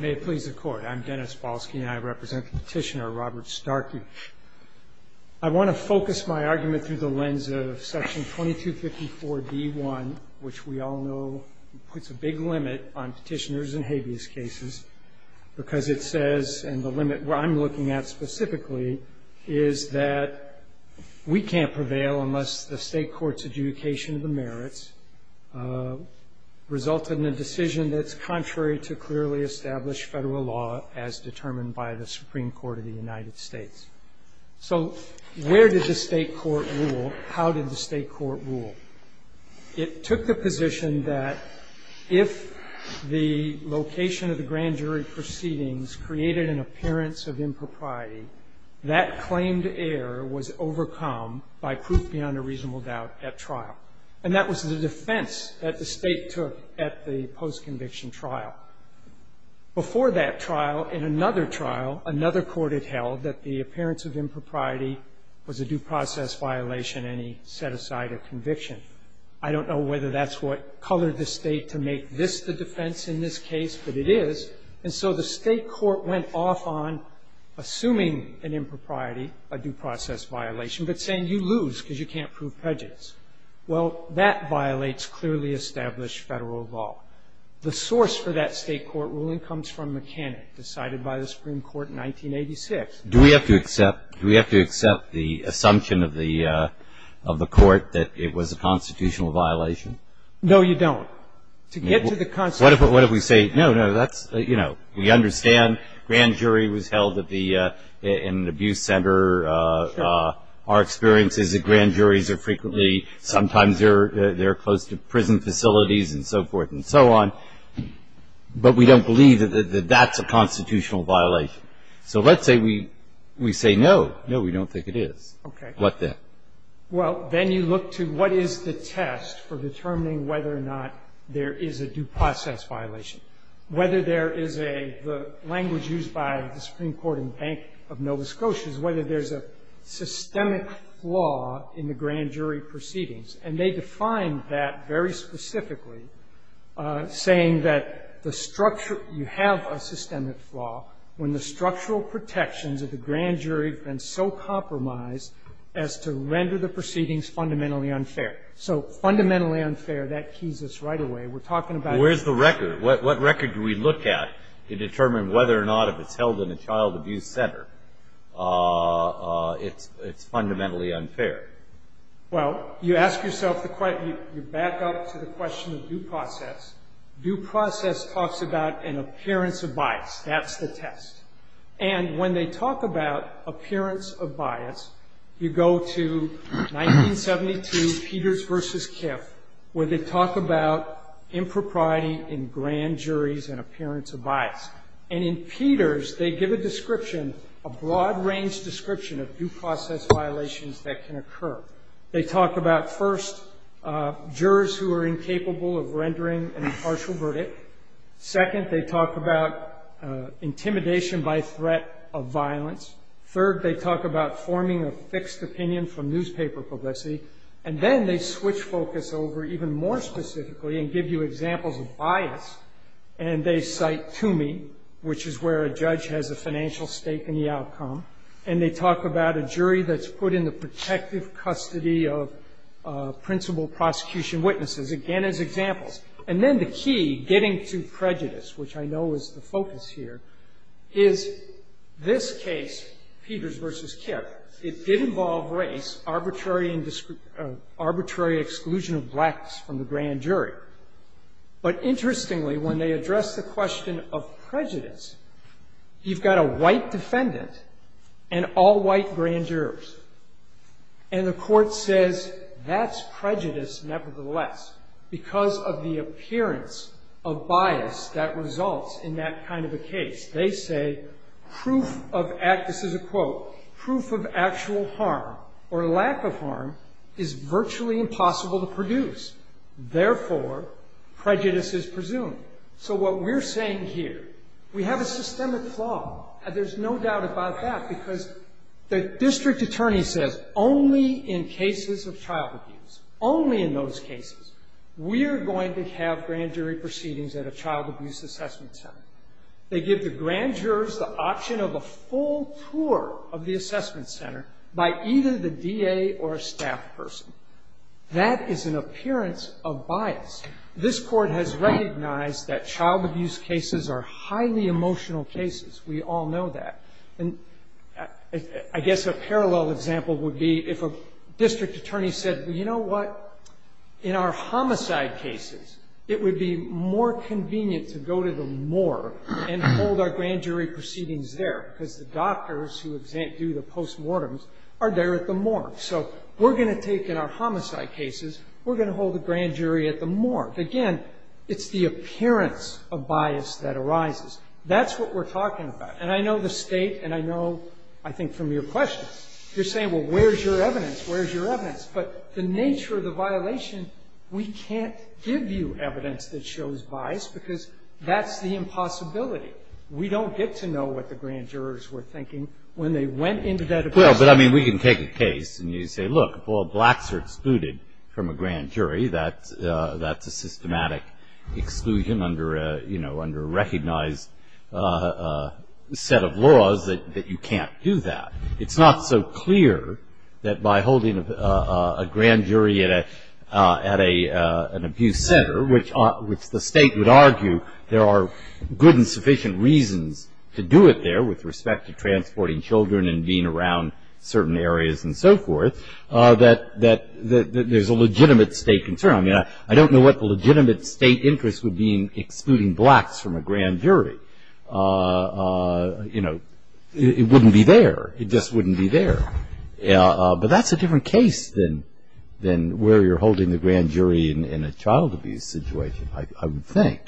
May it please the Court, I'm Dennis Polsky and I represent Petitioner Robert Starkey. I want to focus my argument through the lens of Section 2254 D.1, which we all know puts a big limit on petitioners in habeas cases, because it says, and the limit where I'm looking at specifically, is that we can't prevail unless the state court's adjudication of the merits result in a decision that's contrary to clearly established federal law as determined by the Supreme Court of the United States. So where did the state court rule? How did the state court rule? It took the position that if the location of the grand jury proceedings created an appearance of impropriety, that claimed error was overcome by proof beyond a reasonable doubt at trial. And that was the defense that the state took at the post-conviction trial. Before that trial, in another trial, another court had held that the appearance of impropriety was a due process violation and he set aside a conviction. I don't know whether that's what colored the state to make this the defense in this case, but it is. And so the state court went off on assuming an impropriety, a due process violation, but saying you lose because you can't prove prejudice. Well, that violates clearly established federal law. The source for that state court ruling comes from McKinney, decided by the Supreme Court in 1986. Do we have to accept the assumption of the court that it was a constitutional violation? No, you don't. To get to the constitutional. What if we say, no, no, that's, you know, we understand grand jury was held at the abuse center. Sure. Our experience is that grand juries are frequently, sometimes they're close to prison facilities and so forth and so on. But we don't believe that that's a constitutional violation. So let's say we say no, no, we don't think it is. Okay. What then? Well, then you look to what is the test for determining whether or not there is a due process violation. Whether there is a language used by the Supreme Court and Bank of Nova Scotia, whether there's a systemic flaw in the grand jury proceedings. And they define that very specifically, saying that the structure, you have a systemic flaw. When the structural protections of the grand jury have been so compromised as to render the proceedings fundamentally unfair. So fundamentally unfair, that keys us right away. We're talking about. Where's the record? What record do we look at to determine whether or not if it's held in a child abuse center, it's fundamentally unfair? Well, you ask yourself the question, you back up to the question of due process. Due process talks about an appearance of bias. That's the test. And when they talk about appearance of bias, you go to 1972 Peters v. Kiff, where they talk about impropriety in grand juries and appearance of bias. And in Peters, they give a description, a broad range description of due process violations that can occur. They talk about, first, jurors who are incapable of rendering an impartial verdict. Second, they talk about intimidation by threat of violence. Third, they talk about forming a fixed opinion from newspaper publicity. And then they switch focus over even more specifically and give you examples of bias. And they cite Toomey, which is where a judge has a financial stake in the outcome. And they talk about a jury that's put in the protective custody of principal prosecution witnesses. Again, as examples. And then the key, getting to prejudice, which I know is the focus here, is this case, Peters v. Kiff. It did involve race, arbitrary exclusion of blacks from the grand jury. But interestingly, when they address the question of prejudice, you've got a white defendant and all white grand jurors. And the court says, that's prejudice nevertheless, because of the appearance of bias that results in that kind of a case. They say, proof of, this is a quote, proof of actual harm or lack of harm is virtually impossible to produce. Therefore, prejudice is presumed. So what we're saying here, we have a systemic flaw. There's no doubt about that, because the district attorney says, only in cases of child abuse, only in those cases, we're going to have grand jury proceedings at a child abuse assessment center. They give the grand jurors the option of a full tour of the assessment center by either the DA or a staff person. That is an appearance of bias. This Court has recognized that child abuse cases are highly emotional cases. We all know that. And I guess a parallel example would be if a district attorney said, well, you know what? In our homicide cases, it would be more convenient to go to the morgue and hold our grand jury proceedings there, because the doctors who do the postmortems are there at the morgue. So we're going to take, in our homicide cases, we're going to hold the grand jury at the morgue. Again, it's the appearance of bias that arises. That's what we're talking about. And I know the State, and I know, I think, from your questions, you're saying, well, where's your evidence? Where's your evidence? But the nature of the violation, we can't give you evidence that shows bias, because that's the impossibility. We don't get to know what the grand jurors were thinking when they went into that appearance. Breyer. But, I mean, we can take a case and you say, look, all blacks are excluded from a grand jury. That's a systematic exclusion under a recognized set of laws that you can't do that. It's not so clear that by holding a grand jury at an abuse center, which the State would argue there are good and sufficient reasons to do it there with respect to transporting children and being around certain areas and so forth, that there's a legitimate State concern. I mean, I don't know what the legitimate State interest would be in excluding blacks from a grand jury. You know, it wouldn't be there. It just wouldn't be there. But that's a different case than where you're holding the grand jury in a child abuse situation, I would think.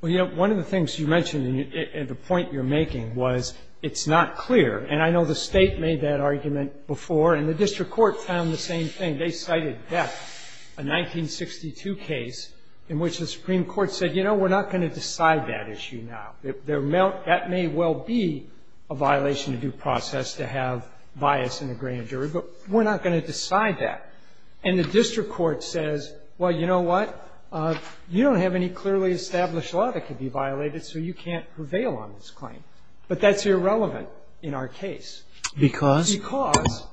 Well, you know, one of the things you mentioned, and the point you're making, was it's not clear. And I know the State made that argument before, and the district court found the same thing. They cited death, a 1962 case in which the Supreme Court said, you know, we're not going to decide that issue now. That may well be a violation of due process to have bias in a grand jury, but we're not going to decide that. And the district court says, well, you know what, you don't have any clearly established law that could be violated, so you can't prevail on this claim. But that's irrelevant in our case. Because? Because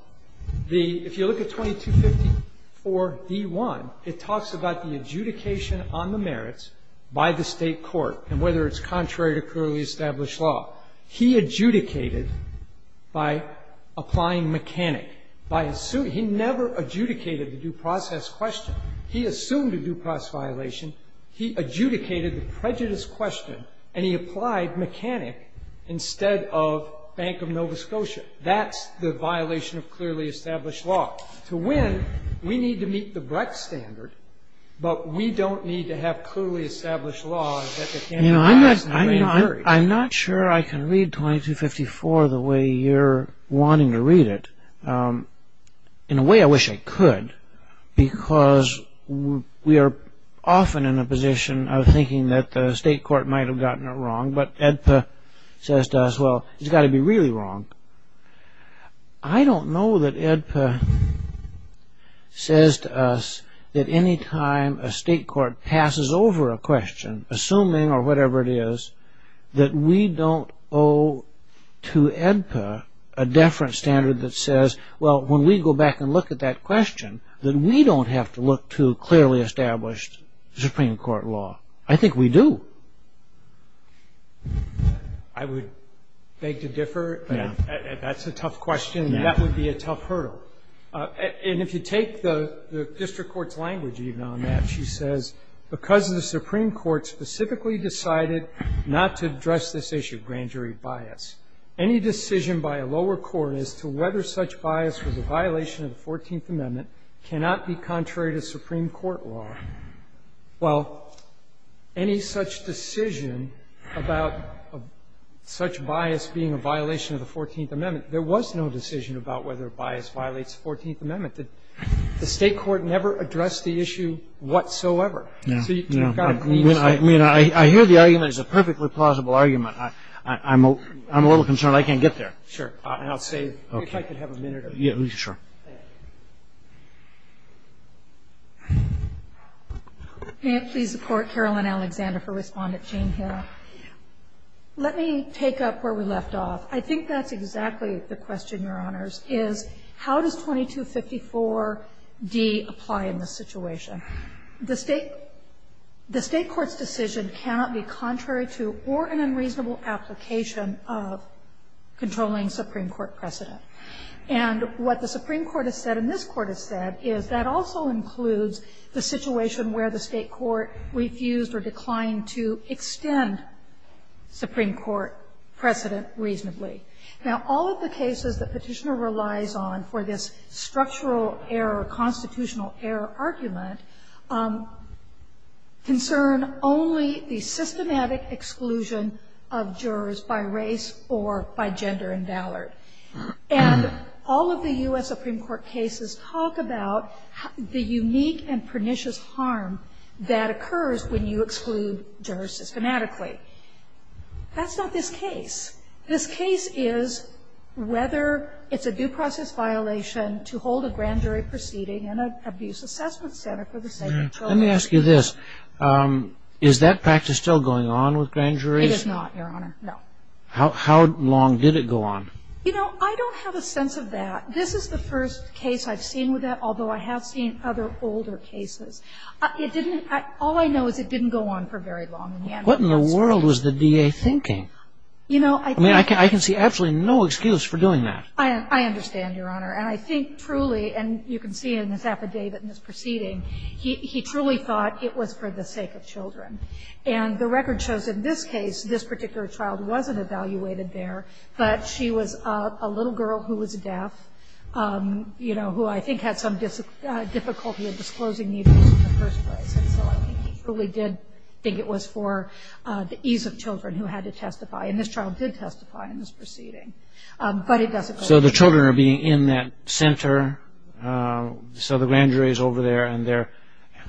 the — if you look at 2254d1, it talks about the adjudication on the merits by the State court and whether it's contrary to clearly established law. He adjudicated by applying mechanic. By assuming — he never adjudicated the due process question. He assumed a due process violation. He adjudicated the prejudice question, and he applied mechanic instead of Bank of Nova Scotia. That's the violation of clearly established law. To win, we need to meet the Brecht standard, but we don't need to have clearly established law. You know, I'm not sure I can read 2254 the way you're wanting to read it. In a way, I wish I could, because we are often in a position of thinking that the State court might have gotten it wrong, but AEDPA says to us, well, it's got to be really wrong. I don't know that AEDPA says to us that any time a State court passes over a question, assuming or whatever it is, that we don't owe to AEDPA a deference standard that says, well, when we go back and look at that question, that we don't have to look to clearly established Supreme Court law. I think we do. I would beg to differ. That's a tough question. That would be a tough hurdle. And if you take the district court's language even on that, she says, because the Supreme Court specifically decided not to address this issue of grand jury bias, any decision by a lower court as to whether such bias was a violation of the 14th Amendment cannot be contrary to Supreme Court law. Well, any such decision about such bias being a violation of the 14th Amendment, there was no decision about whether bias violates the 14th Amendment. The State court never addressed the issue whatsoever. So you've got to be clear. I mean, I hear the argument. It's a perfectly plausible argument. I'm a little concerned I can't get there. Sure. And I'll say, if I could have a minute of your time. Sure. Thank you. May it please the Court, Caroline Alexander for Respondent Jane Hill. Let me take up where we left off. I think that's exactly the question, Your Honors, is how does 2254d apply in this situation? The State court's decision cannot be contrary to or an unreasonable application of controlling Supreme Court precedent. And what the Supreme Court has said and this Court has said is that also includes the situation where the State court refused or declined to extend Supreme Court precedent reasonably. Now, all of the cases that Petitioner relies on for this structural error, constitutional error argument, concern only the systematic exclusion of jurors by race or by gender and valor. And all of the U.S. Supreme Court cases talk about the unique and pernicious harm that occurs when you exclude jurors systematically. That's not this case. This case is whether it's a due process violation to hold a grand jury proceeding in an abuse assessment center for the same control measure. Let me ask you this. Is that practice still going on with grand juries? It is not, Your Honor. No. How long did it go on? You know, I don't have a sense of that. This is the first case I've seen with that, although I have seen other older cases. It didn't, all I know is it didn't go on for very long. What in the world was the DA thinking? I mean, I can see absolutely no excuse for doing that. I understand, Your Honor. And I think truly, and you can see in his affidavit in this proceeding, he truly thought it was for the sake of children. And the record shows in this case, this particular child wasn't evaluated there, but she was a little girl who was deaf, you know, who I think had some difficulty in disclosing the abuse in the first place. And so I think he truly did think it was for the ease of children who had to testify. And this child did testify in this proceeding. So the children are being in that center. So the grand jury is over there.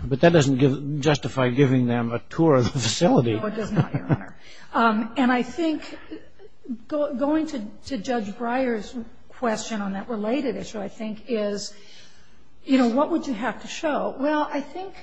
But that doesn't justify giving them a tour of the facility. No, it does not, Your Honor. And I think going to Judge Breyer's question on that related issue, I think, is, you know, what would you have to show? Well, I think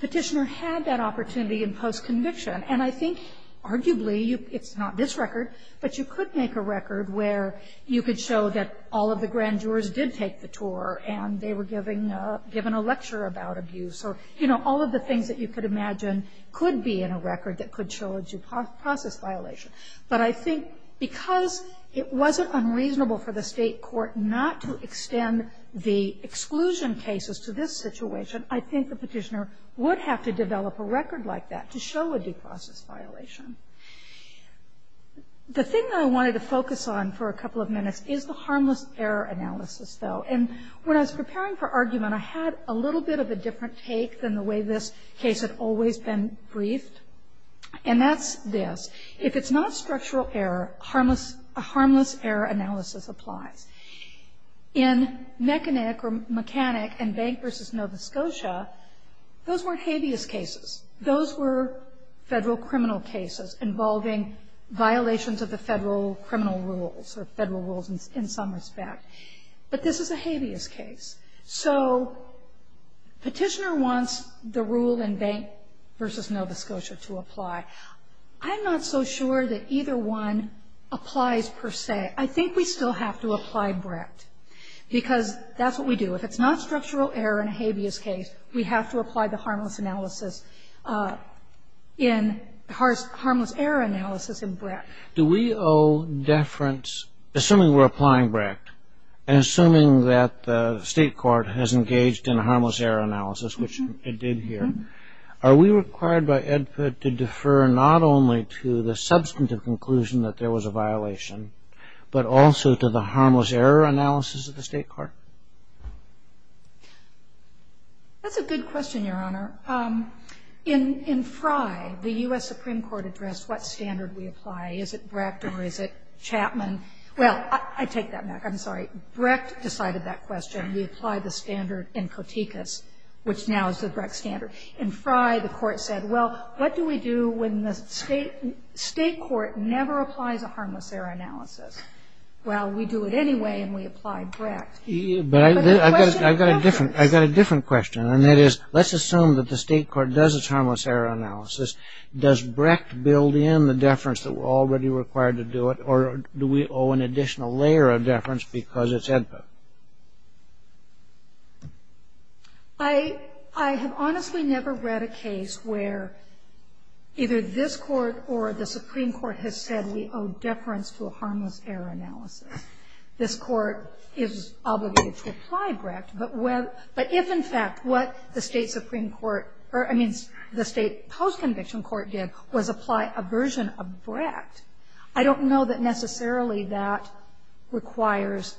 Petitioner had that opportunity in post-conviction. And I think arguably, it's not this record, but you could make a record where you could show that all of the grand jurors did take the tour and they were given a lecture about abuse or, you know, all of the things that you could imagine could be in a record that could show a due process violation. But I think because it wasn't unreasonable for the state court not to extend the exclusion cases to this situation, I think the Petitioner would have to develop a record like that to show a due process violation. The thing that I wanted to focus on for a couple of minutes is the harmless error analysis, though. And when I was preparing for argument, I had a little bit of a different take than the way this case had always been briefed. And that's this. If it's not structural error, a harmless error analysis applies. In Mechanic and Bank v. Nova Scotia, those weren't habeas cases. Those were federal criminal cases involving violations of the federal criminal rules or federal rules in some respect. But this is a habeas case. So Petitioner wants the rule in Bank v. Nova Scotia to apply. I'm not so sure that either one applies per se. I think we still have to apply Brecht because that's what we do. If it's not structural error in a habeas case, we have to apply the harmless error analysis in Brecht. Do we owe deference, assuming we're applying Brecht, and assuming that the state court has engaged in a harmless error analysis, which it did here, are we required by Edput to defer not only to the substantive conclusion that there was a violation, but also to the harmless error analysis of the state court? That's a good question, Your Honor. In Frye, the U.S. Supreme Court addressed what standard we apply. Is it Brecht or is it Chapman? Well, I take that back. I'm sorry. Brecht decided that question. We applied the standard in Kotickas, which now is the Brecht standard. In Frye, the court said, well, what do we do when the state court never applies a harmless error analysis? Well, we do it anyway, and we apply Brecht. But the question doesn't exist. I've got a different question, and that is, let's assume that the state court does its harmless error analysis. Does Brecht build in the deference that we're already required to do it, or do we owe an additional layer of deference because it's Edput? I have honestly never read a case where either this court or the Supreme Court has said we owe deference to a harmless error analysis. This court is obligated to apply Brecht. But if, in fact, what the state post-conviction court did was apply a version of Brecht, I don't know that necessarily that requires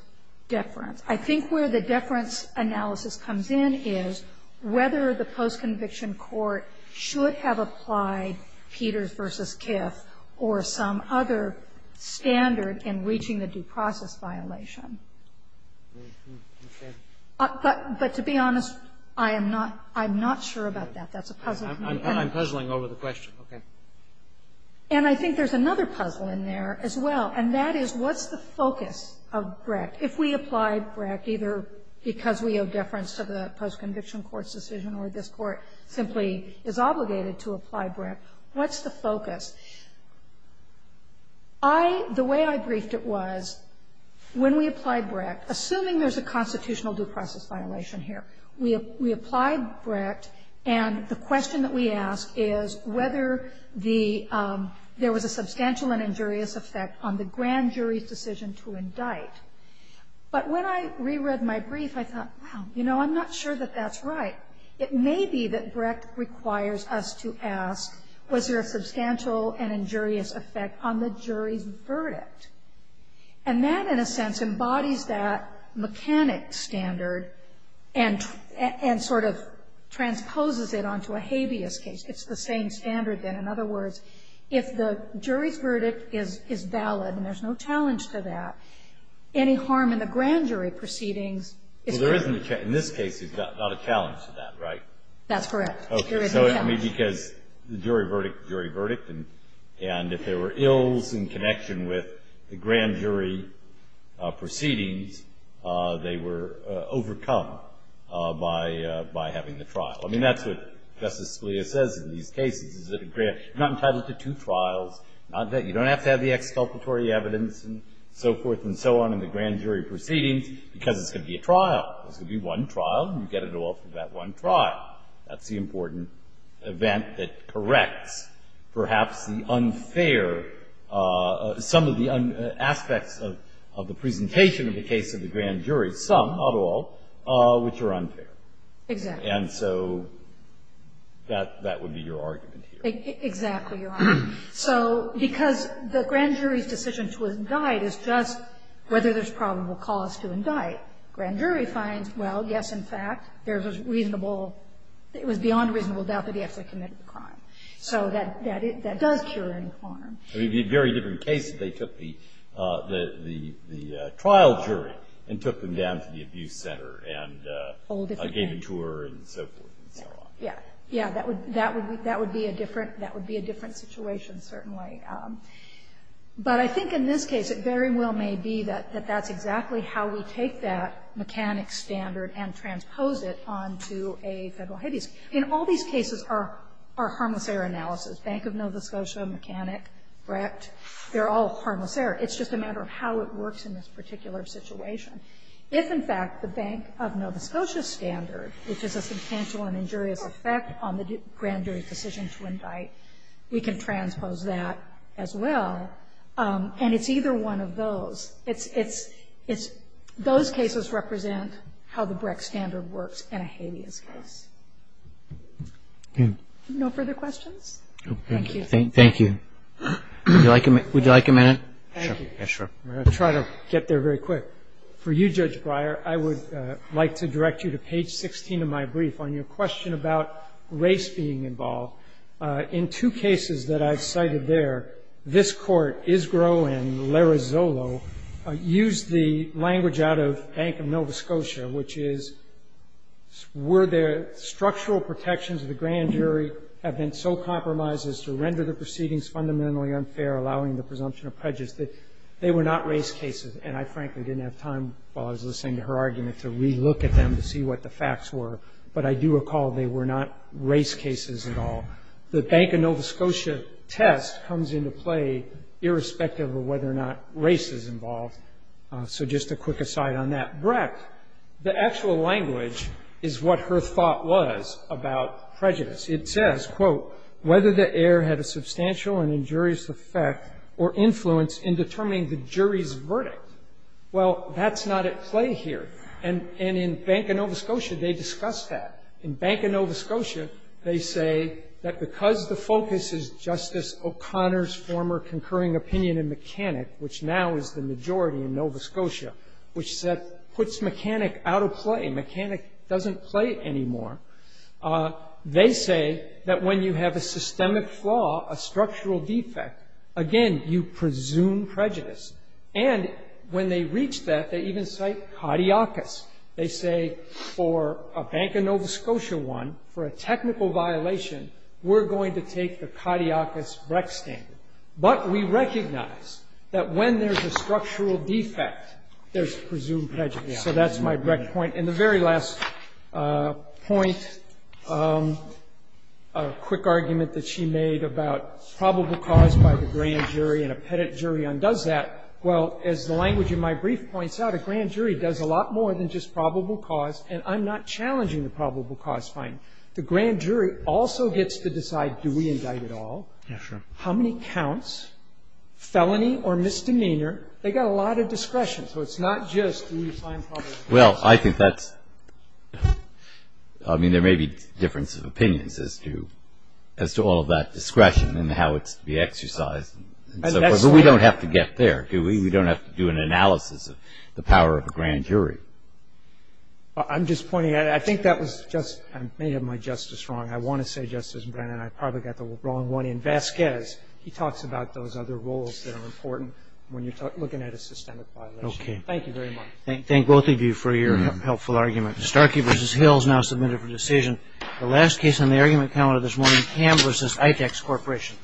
deference. I think where the deference analysis comes in is whether the post-conviction court should have applied Peters v. Kiff or some other standard in reaching the due process violation. But to be honest, I am not sure about that. That's a puzzle for me. I'm puzzling over the question. Okay. And I think there's another puzzle in there as well, and that is, what's the focus of Brecht? If we apply Brecht, either because we owe deference to the post-conviction court's decision or this court simply is obligated to apply Brecht, what's the focus? I — the way I briefed it was, when we apply Brecht, assuming there's a constitutional due process violation here, we apply Brecht, and the question that we ask is whether there was a substantial and injurious effect on the grand jury's decision to indict. But when I reread my brief, I thought, wow, you know, I'm not sure that that's right. It may be that Brecht requires us to ask, was there a substantial and injurious effect on the jury's verdict? And that, in a sense, embodies that mechanic standard and sort of transposes it onto a habeas case. It's the same standard, then. In other words, if the jury's verdict is valid and there's no challenge to that, any harm in the grand jury proceedings is correct. Well, there isn't a — in this case, there's not a challenge to that, right? That's correct. There is a challenge. Okay. So, I mean, because the jury verdict, jury verdict, and if there were ills in connection with the grand jury proceedings, they were overcome by having the trial. I mean, that's what Justice Scalia says in these cases, is that a grand — you're not entitled to two trials, not that — you don't have to have the exculpatory evidence and so forth and so on in the grand jury proceedings because it's going to be a trial. It's going to be one trial, and you get it all for that one trial. That's the important event that corrects perhaps the unfair — some of the aspects of the presentation of the case of the grand jury, some, not all, which are unfair. Exactly. And so that would be your argument here. Exactly, Your Honor. So because the grand jury's decision to indict is just whether there's probable cause to indict. Grand jury finds, well, yes, in fact, there's a reasonable — it was beyond reasonable doubt that he actually committed the crime. So that does cure any harm. I mean, it would be a very different case if they took the trial jury and took them down to the abuse center and gave a tour and so forth and so on. Yeah. Yeah. That would be a different situation, certainly. But I think in this case it very well may be that that's exactly how we take that mechanic standard and transpose it onto a federal habeas. In all these cases are harmless error analysis. Bank of Nova Scotia, Mechanic, Brecht, they're all harmless error. It's just a matter of how it works in this particular situation. If, in fact, the Bank of Nova Scotia standard, which is a substantial and injurious effect on the grand jury's decision to indict, we can transpose that as well. And it's either one of those. It's — those cases represent how the Brecht standard works in a habeas case. No further questions? Thank you. Thank you. Would you like a minute? Sure. Yes, sure. I'm going to try to get there very quick. For you, Judge Breyer, I would like to direct you to page 16 of my brief on your question about race being involved. In two cases that I've cited there, this Court, Isgro and Larazolo, used the language out of Bank of Nova Scotia, which is were there structural protections of the grand jury have been so compromised as to render the proceedings fundamentally unfair, allowing the presumption of prejudice, that they were not race cases. And I, frankly, didn't have time, while I was listening to her argument, to re-look at them to see what the facts were. But I do recall they were not race cases at all. The Bank of Nova Scotia test comes into play irrespective of whether or not race is involved. So just a quick aside on that. Brecht, the actual language is what her thought was about prejudice. It says, quote, whether the error had a substantial and injurious effect or influence in determining the jury's verdict. Well, that's not at play here. And in Bank of Nova Scotia, they discuss that. In Bank of Nova Scotia, they say that because the focus is Justice O'Connor's former concurring opinion in Mechanic, which now is the majority in Nova Scotia, which puts Mechanic out of play. Mechanic doesn't play anymore. They say that when you have a systemic flaw, a structural defect, again, you presume prejudice. And when they reach that, they even cite caudiacus. They say for a Bank of Nova Scotia one, for a technical violation, we're going to take the caudiacus Brecht standard. But we recognize that when there's a structural defect, there's presumed prejudice. So that's my Brecht point. And the very last point, a quick argument that she made about probable cause by the grand jury and a pettit jury undoes that. Well, as the language in my brief points out, a grand jury does a lot more than just probable cause, and I'm not challenging the probable cause finding. The grand jury also gets to decide do we indict at all, how many counts, felony or misdemeanor. They've got a lot of discretion. So it's not just do we find probable cause. Well, I think that's – I mean, there may be differences of opinions as to all of that discretion and how it's to be exercised and so forth. But we don't have to get there, do we? We don't have to do an analysis of the power of a grand jury. I'm just pointing out, I think that was just – I may have my justice wrong. I want to say, Justice Brennan, I probably got the wrong one. In Vasquez, he talks about those other roles that are important when you're looking at a systemic violation. Thank you very much. Thank both of you for your helpful argument. Starkey v. Hill is now submitted for decision. The last case on the argument calendar this morning, Ham v. Itex Corporation.